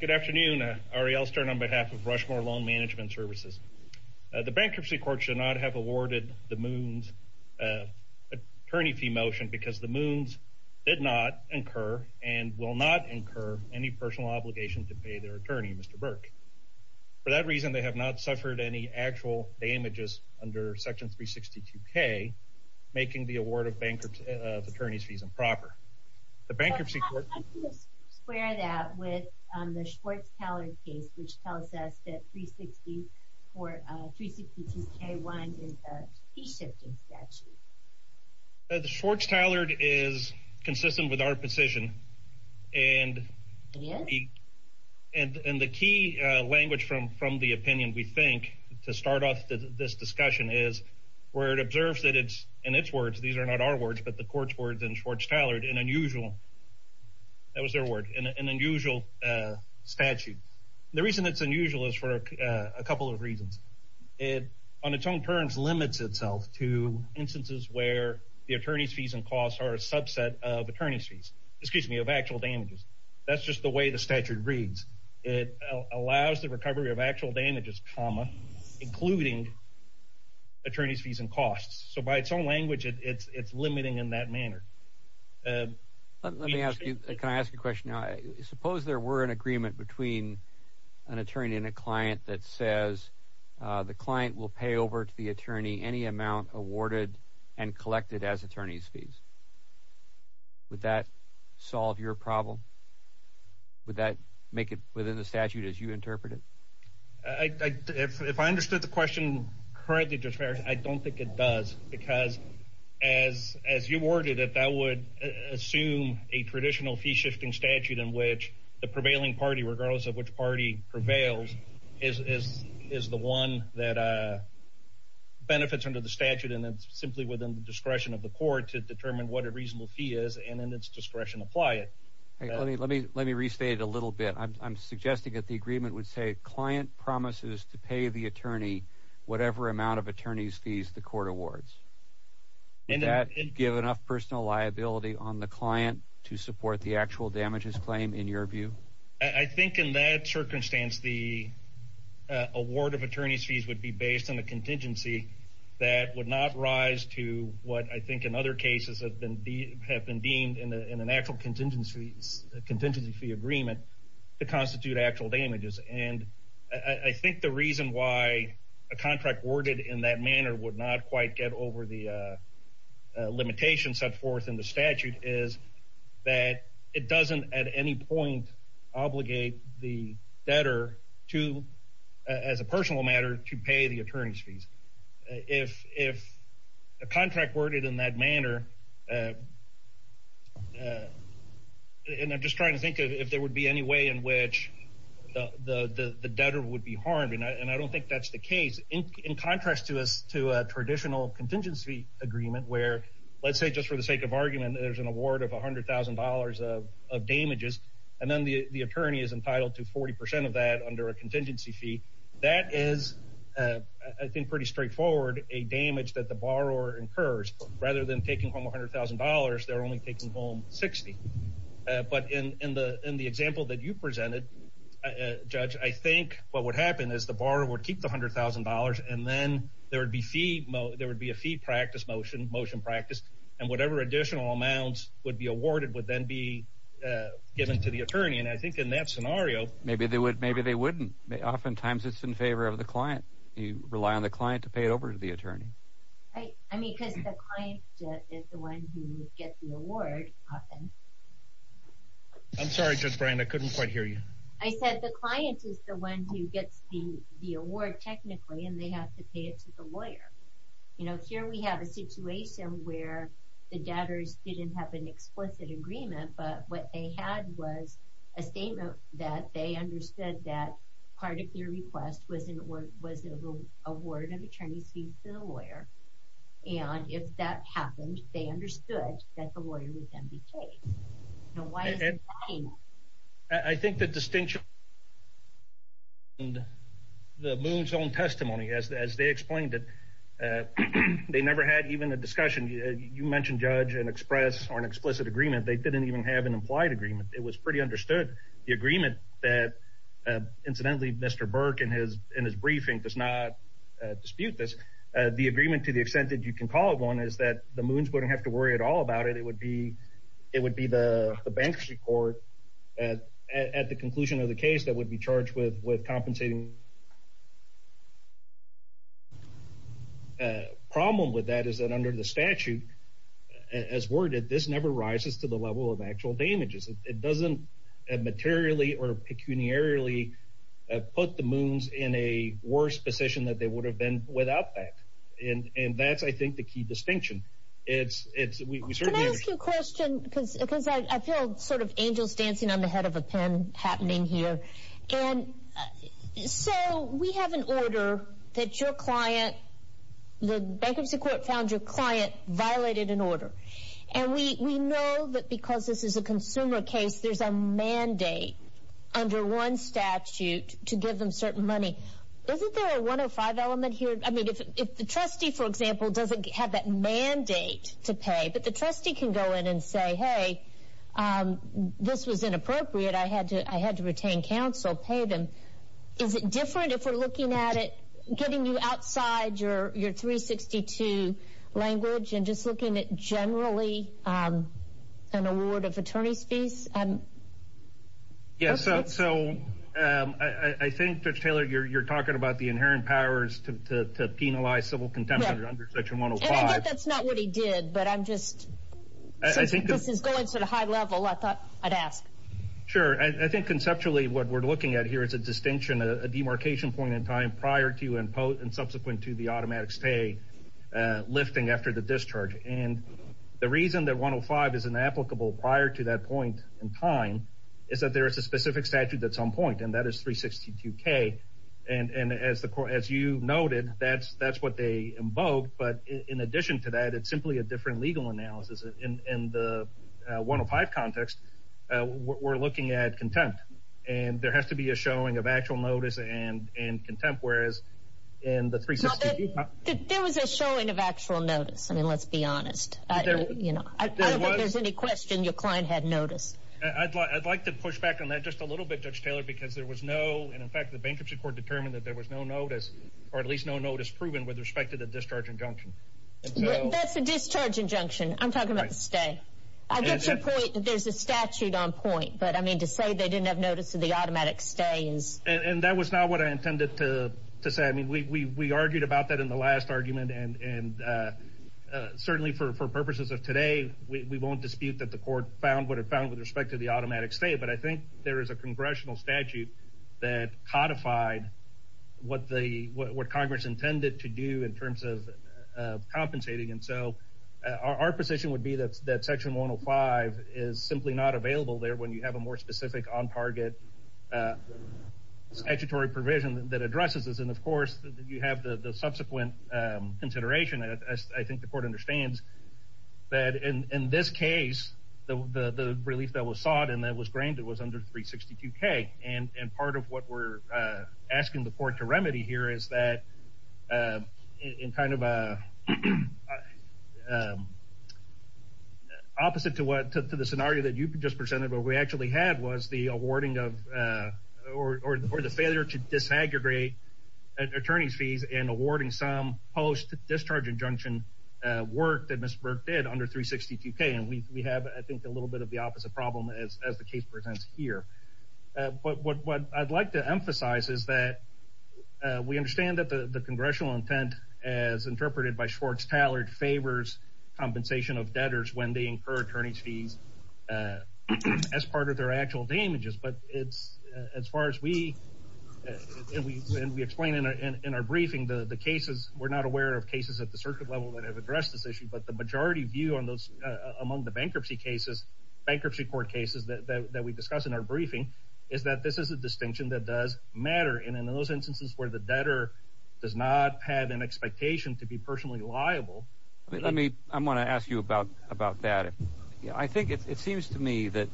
Good afternoon, Ariel Stern on behalf of Rushmore Loan Management Services. The Bankruptcy Court should not have awarded the Moons an attorney fee motion because the Moons did not incur and will not incur any personal obligation to pay their attorney, Mr. Burke. For that reason, they have not suffered any actual damages under Section 362K, making the award of attorneys fees improper. How do you square that with the Schwartz-Tallard case, which tells us that Section 362K-1 is a fee-shifting statute? Schwartz-Tallard is consistent with our position, and the key language from the opinion we think to start off this discussion is where it observes that it's, in its words, these are not our words, but the court's words in Schwartz-Tallard, an unusual statute. The reason it's unusual is for a couple of reasons. It, on its own terms, limits itself to instances where the attorney's fees and costs are a subset of actual damages. That's just the way the statute reads. It allows the recovery of actual damages, including attorney's fees and costs. So by its own language, it's limiting in that manner. Let me ask you, can I ask you a question now? Suppose there were an agreement between an attorney and a client that says the client will pay over to the attorney any amount awarded and collected as attorney's fees. Would that solve your problem? Would that make it within the statute as you interpret it? If I understood the question correctly, I don't think it does, because as you worded it, that would assume a traditional fee-shifting statute in which the prevailing party, regardless of which party prevails, is the one that benefits under the statute, and it's simply within the discretion of the court to determine what a reasonable fee is and in its discretion apply it. Let me restate it a little bit. I'm suggesting that the agreement would say client promises to pay the attorney whatever amount of attorney's fees the court awards. Would that give enough personal liability on the client to support the actual damages claim in your view? I think in that circumstance the award of attorney's fees would be based on a contingency that would not rise to what I think in other cases have been deemed in an actual contingency fee agreement to constitute actual damages, and I think the reason why a contract worded in that manner would not quite get over the limitations set forth in the statute is that it doesn't at any point obligate the debtor to, as a personal matter, to pay the attorney's fees. If a contract worded in that manner, and I'm just trying to think if there would be any way in which the debtor would be harmed, and I don't think that's the case. In contrast to a traditional contingency agreement where, let's say just for the sake of argument, there's an award of $100,000 of damages, and then the attorney is entitled to 40% of that under a contingency fee, that is, I think pretty straightforward, a damage that the borrower incurs. Rather than taking home $100,000, they're only taking home 60. But in the example that you presented, Judge, I think what would happen is the borrower would keep the $100,000, and then there would be a fee practice motion, motion practice, and whatever additional amounts would be awarded would then be given to the attorney, and I think in that scenario. Maybe they wouldn't. Oftentimes it's in favor of the client. You rely on the client to pay it over to the attorney. I mean, because the client is the one who would get the award often. I'm sorry, Judge Brian, I couldn't quite hear you. I said the client is the one who gets the award technically, and they have to pay it to the lawyer. Here we have a situation where the debtors didn't have an explicit agreement, but what they had was a statement that they understood that part of your request was an award of attorney's fees to the lawyer, and if that happened, they understood that the lawyer would then be paid. Now, why is it not enough? I think the distinction is in the Boone's own testimony, as they explained it. They never had even a discussion. You mentioned, Judge, an express or an explicit agreement. They didn't even have an implied agreement. It was pretty understood. The agreement that, incidentally, Mr. Burke, in his briefing, does not dispute this. The agreement, to the extent that you can call it one, is that the Boones wouldn't have to worry at all about it. It would be the bankruptcy court, at the conclusion of the case, that would be charged with compensating. The problem with that is that under the statute, as worded, this never rises to the level of actual damages. It doesn't materially or pecuniarily put the Boones in a worse position than they would have been without that, and that's, I think, the key distinction. Can I ask you a question? Because I feel sort of angels dancing on the head of a pen happening here. So we have an order that your client, the bankruptcy court found your client, violated an order, and we know that because this is a consumer case, there's a mandate under one statute to give them certain money. Isn't there a 105 element here? I mean, if the trustee, for example, doesn't have that mandate to pay, but the trustee can go in and say, hey, this was inappropriate. I had to retain counsel, pay them. Is it different if we're looking at it, getting you outside your 362 language and just looking at generally an award of attorney's fees? Yes. So I think, Judge Taylor, you're talking about the inherent powers to penalize civil contempt under section 105. And I get that's not what he did, but I'm just going to the high level. I thought I'd ask. Sure. I think conceptually what we're looking at here is a distinction, a demarcation point in time prior to and subsequent to the automatic stay, lifting after the discharge. And the reason that 105 is inapplicable prior to that point in time is that there is a specific statute that's on point, and that is 362K. And as you noted, that's what they invoked. But in addition to that, it's simply a different legal analysis. In the 105 context, we're looking at contempt. And there has to be a showing of actual notice and contempt, whereas in the 362K. There was a showing of actual notice. I mean, let's be honest. I don't think there's any question your client had notice. I'd like to push back on that just a little bit, Judge Taylor, because there was no, and in fact the bankruptcy court determined that there was no notice, or at least no notice proven with respect to the discharge injunction. That's a discharge injunction. I'm talking about the stay. I get the point that there's a statute on point, but to say they didn't have notice of the automatic stay is. And that was not what I intended to say. We argued about that in the last argument, and certainly for purposes of today we won't dispute that the court found what it found with respect to the automatic stay, but I think there is a congressional statute that codified what Congress intended to do in terms of compensating. And so our position would be that section 105 is simply not available there when you have a more specific on target statutory provision that addresses this. And, of course, you have the subsequent consideration. I think the court understands that in this case the relief that was sought and that was granted was under 362K. And part of what we're asking the court to remedy here is that in kind of a opposite to the scenario that you just presented, what we actually had was the awarding of or the failure to disaggregate attorney's fees and awarding some post-discharge injunction work that Ms. Burke did under 362K. And we have, I think, a little bit of the opposite problem as the case presents here. But what I'd like to emphasize is that we understand that the congressional intent as interpreted by Schwartz-Tallard favors compensation of debtors when they incur attorney's fees as part of their actual damages. But as far as we explain in our briefing, the cases, we're not aware of cases at the circuit level that have addressed this issue, but the majority view among the bankruptcy court cases that we discuss in our briefing is that this is a distinction that does matter. And in those instances where the debtor does not have an expectation to be personally liable. I want to ask you about that. I think it seems to me that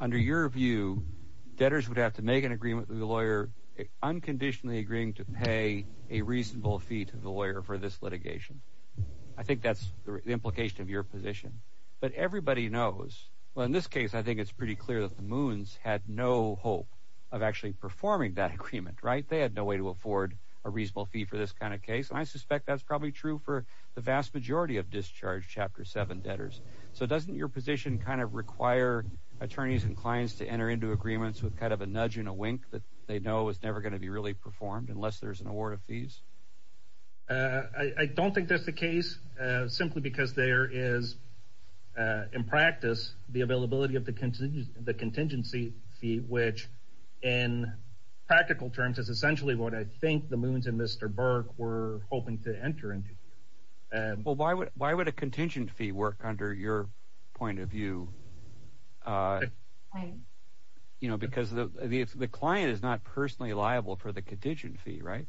under your view, debtors would have to make an agreement with the lawyer unconditionally agreeing to pay a reasonable fee to the lawyer for this litigation. I think that's the implication of your position. But everybody knows, well, in this case, I think it's pretty clear that the Moons had no hope of actually performing that agreement, right? They had no way to afford a reasonable fee for this kind of case. And I suspect that's probably true for the vast majority of Discharge Chapter 7 debtors. So doesn't your position kind of require attorneys and clients to enter into agreements with kind of a nudge and a wink that they know is never going to be really performed unless there's an award of fees? I don't think that's the case simply because there is, in practice, the availability of the contingency fee, which in practical terms is essentially what I think the Moons and Mr. Burke were hoping to enter into. Well, why would a contingency fee work under your point of view? Because the client is not personally liable for the contingency fee, right?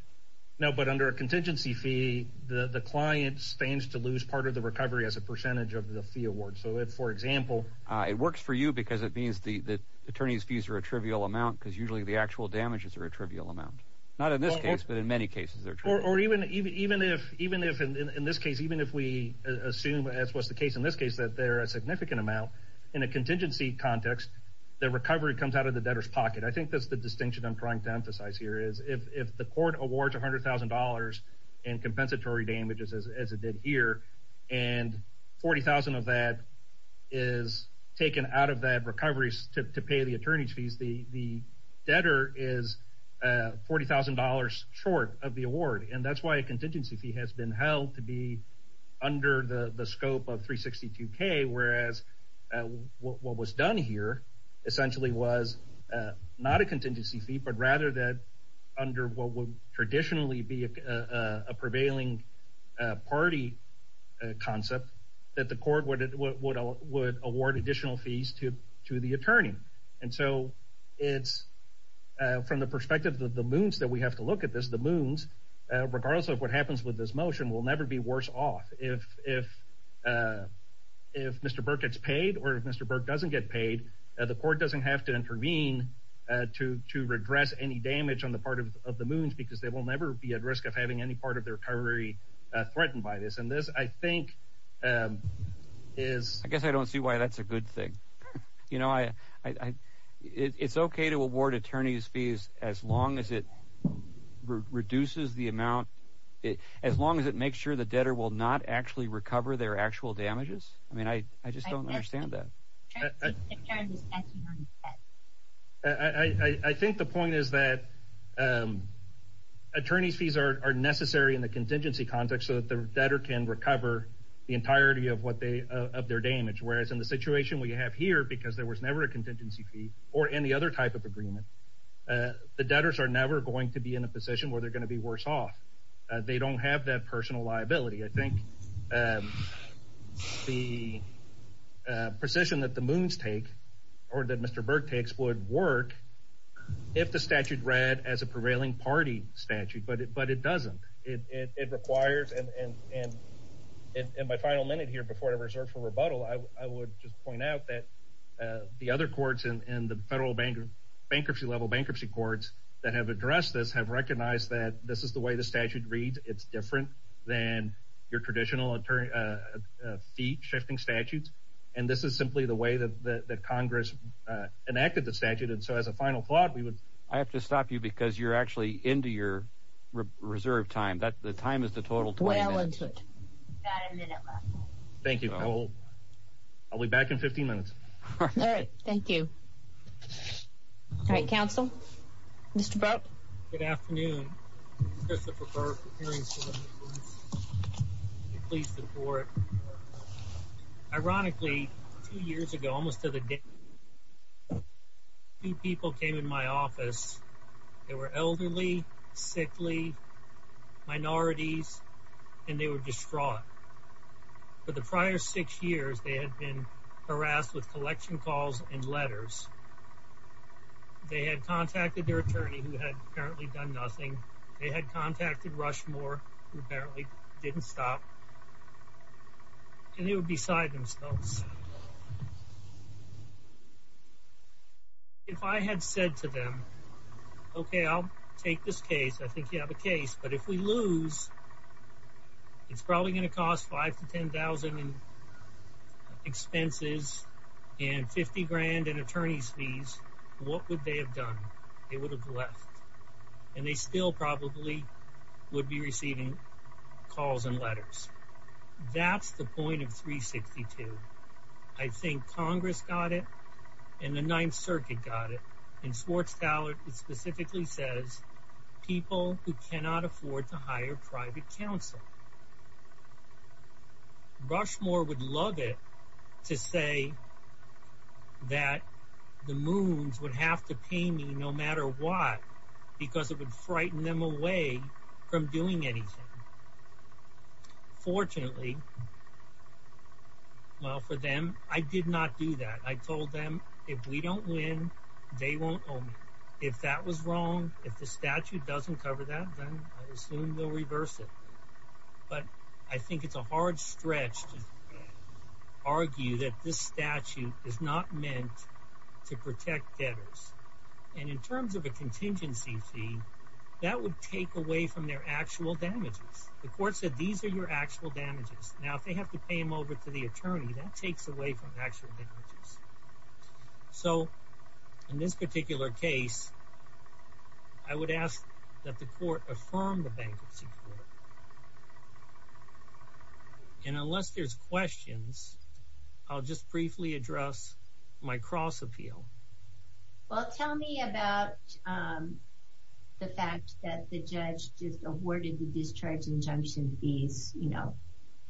No, but under a contingency fee, the client stands to lose part of the recovery as a percentage of the fee award. So if, for example, It works for you because it means the attorney's fees are a trivial amount because usually the actual damages are a trivial amount. Not in this case, but in many cases they're trivial. Or even if, in this case, even if we assume, as was the case in this case, that they're a significant amount, in a contingency context, the recovery comes out of the debtor's pocket. I think that's the distinction I'm trying to emphasize here is if the court awards $100,000 in compensatory damages, as it did here, and $40,000 of that is taken out of that recovery to pay the attorney's fees, the debtor is $40,000 short of the award. And that's why a contingency fee has been held to be under the scope of $362K, whereas what was done here essentially was not a contingency fee, but rather that under what would traditionally be a prevailing party concept that the court would award additional fees to the attorney. And so it's from the perspective of the moons that we have to look at this, the moons, regardless of what happens with this motion, will never be worse off. If Mr. Burke gets paid or if Mr. Burke doesn't get paid, the court doesn't have to intervene to redress any damage on the part of the moons because they will never be at risk of having any part of their recovery threatened by this. And this, I think, is... I guess I don't see why that's a good thing. You know, it's okay to award attorney's fees as long as it reduces the amount, as long as it makes sure the debtor will not actually recover their actual damages. I mean, I just don't understand that. I think the point is that attorney's fees are necessary in the contingency context so that the debtor can recover the entirety of their damage, whereas in the situation we have here, because there was never a contingency fee or any other type of agreement, the debtors are never going to be in a position where they're going to be worse off. They don't have that personal liability. I think the position that the moons take or that Mr. Burke takes would work if the statute read as a prevailing party statute, but it doesn't. It requires, and my final minute here before I reserve for rebuttal, I would just point out that the other courts in the federal bankruptcy level, bankruptcy courts that have addressed this have recognized that this is the way the statute reads. It's different than your traditional fee-shifting statutes, and this is simply the way that Congress enacted the statute, and so as a final thought we would. I have to stop you because you're actually into your reserve time. The time is the total 20 minutes. Thank you. I'll be back in 15 minutes. All right. Thank you. All right, counsel. Mr. Burke. Good afternoon. Christopher Burke, hearing service. Please support. Ironically, two years ago, almost to the day, two people came in my office. They were elderly, sickly, minorities, and they were distraught. For the prior six years, they had been harassed with collection calls and letters. They had contacted their attorney, who had apparently done nothing. They had contacted Rushmore, who apparently didn't stop, and they were beside themselves. If I had said to them, okay, I'll take this case, I think you have a case, but if we lose, it's probably going to cost $5,000 to $10,000 in expenses and $50,000 in attorney's fees, what would they have done? They would have left, and they still probably would be receiving calls and letters. That's the point of 362. I think Congress got it and the Ninth Circuit got it, and Swartz-Tallard specifically says people who cannot afford to hire private counsel. Rushmore would love it to say that the moons would have to pay me no matter what because it would frighten them away from doing anything. Fortunately, well, for them, I did not do that. I told them if we don't win, they won't owe me. If that was wrong, if the statute doesn't cover that, then I assume they'll reverse it. But I think it's a hard stretch to argue that this statute is not meant to protect debtors. In terms of a contingency fee, that would take away from their actual damages. The court said these are your actual damages. Now, if they have to pay them over to the attorney, that takes away from actual damages. So, in this particular case, I would ask that the court affirm the Bankruptcy Court. And unless there's questions, I'll just briefly address my cross-appeal. Well, tell me about the fact that the judge just awarded the discharge injunction fees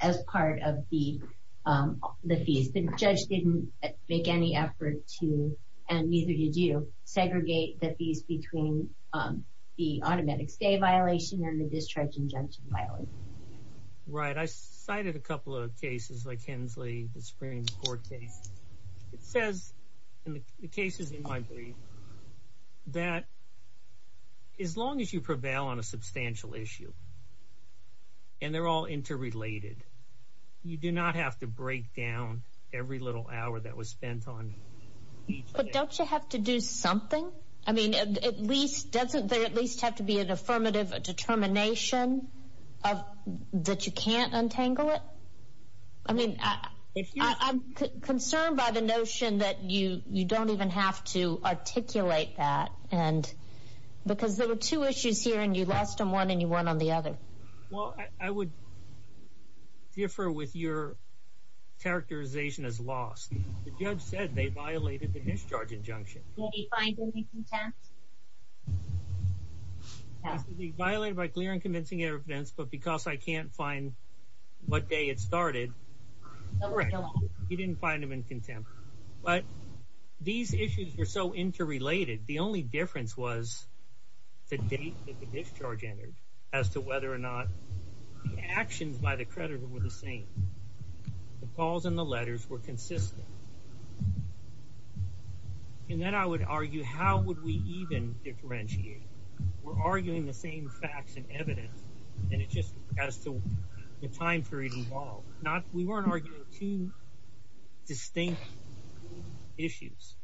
as part of the fees. The judge didn't make any effort to, and neither did you, segregate the fees between the automatic stay violation and the discharge injunction violation. Right. I cited a couple of cases like Hensley, the Supreme Court case. It says in the cases in my brief that as long as you prevail on a substantial issue, and they're all interrelated, you do not have to break down every little hour that was spent on each case. But don't you have to do something? I mean, doesn't there at least have to be an affirmative determination that you can't untangle it? I mean, I'm concerned by the notion that you don't even have to articulate that. Because there were two issues here, and you lost on one and you won on the other. Well, I would differ with your characterization as lost. The judge said they violated the discharge injunction. Did he find them in contempt? They violated by clear and convincing evidence, but because I can't find what day it started. Correct. He didn't find them in contempt. But these issues were so interrelated. The only difference was the date that the discharge entered as to whether or not the actions by the creditor were the same. The calls and the letters were consistent. And then I would argue, how would we even differentiate? We're arguing the same facts and evidence, and it's just as to the time period involved. We weren't arguing two distinct issues.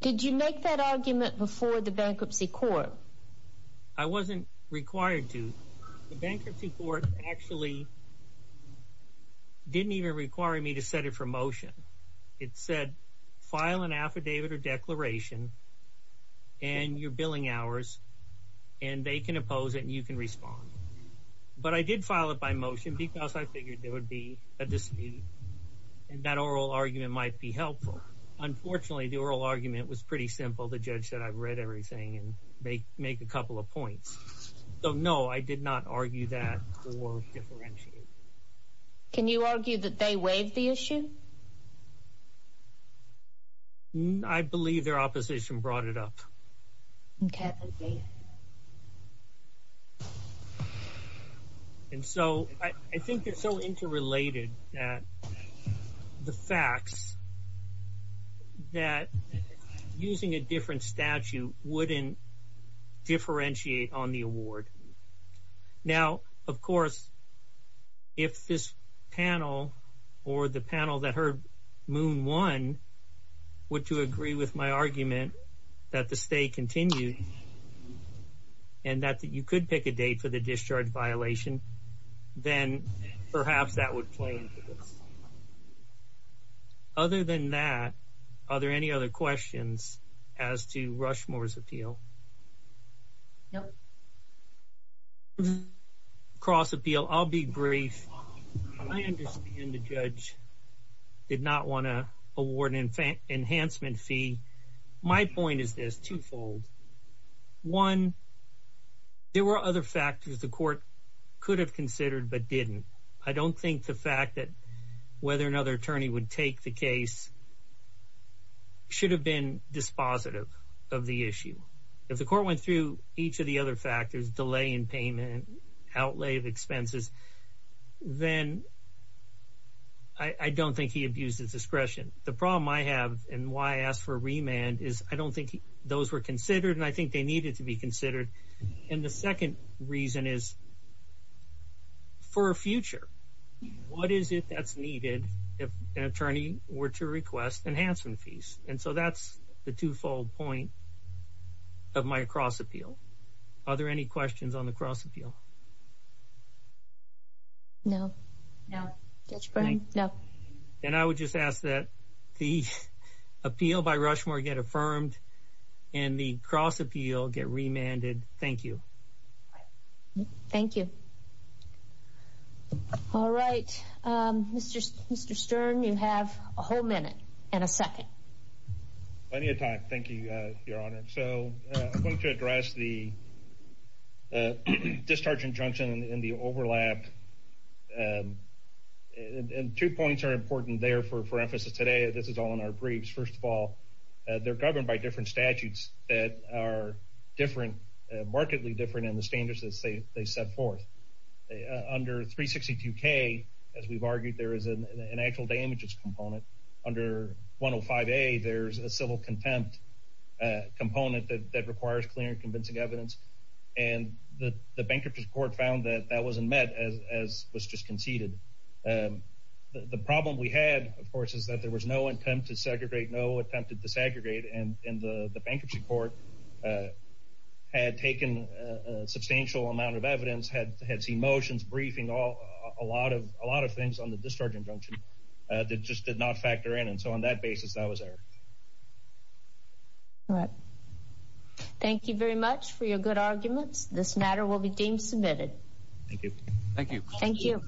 Did you make that argument before the bankruptcy court? I wasn't required to. The bankruptcy court actually didn't even require me to set it for motion. It said, file an affidavit or declaration and your billing hours, and they can oppose it and you can respond. But I did file it by motion because I figured there would be a dispute and that oral argument might be helpful. Unfortunately, the oral argument was pretty simple. The judge said I've read everything and make a couple of points. So, no, I did not argue that or differentiate. Can you argue that they waived the issue? I believe their opposition brought it up. Okay. And so, I think they're so interrelated that the facts that using a different statute wouldn't differentiate on the award. Now, of course, if this panel or the panel that heard Moon won, would you agree with my argument that the stay continued? And that you could pick a date for the discharge violation, then perhaps that would play into this. Other than that, are there any other questions as to Rushmore's appeal? No. Cross appeal, I'll be brief. I understand the judge did not want to award an enhancement fee. My point is this, twofold. One, there were other factors the court could have considered but didn't. I don't think the fact that whether another attorney would take the case should have been dispositive of the issue. If the court went through each of the other factors, delay in payment, outlay of expenses, then I don't think he abused his discretion. The problem I have and why I asked for a remand is I don't think those were considered and I think they needed to be considered. And the second reason is for a future. What is it that's needed if an attorney were to request enhancement fees? And so, that's the twofold point of my cross appeal. Are there any questions on the cross appeal? No. No. Judge Byrne? No. And I would just ask that the appeal by Rushmore get affirmed and the cross appeal get remanded. Thank you. Thank you. All right. Mr. Stern, you have a whole minute and a second. Plenty of time. Thank you, Your Honor. So, I'm going to address the discharge injunction and the overlap. Two points are important there for emphasis today. This is all in our briefs. First of all, they're governed by different statutes that are markedly different in the standards they set forth. Under 362K, as we've argued, there is an actual damages component. Under 105A, there's a civil contempt component that requires clear and convincing evidence. And the Bankruptcy Court found that that wasn't met, as was just conceded. The problem we had, of course, is that there was no attempt to segregate, no attempt to desegregate. And the Bankruptcy Court had taken a substantial amount of evidence, had seen motions, briefings, a lot of things on the discharge injunction that just did not factor in. And so, on that basis, that was there. All right. Thank you very much for your good arguments. This matter will be deemed submitted. Thank you. Thank you. Thank you.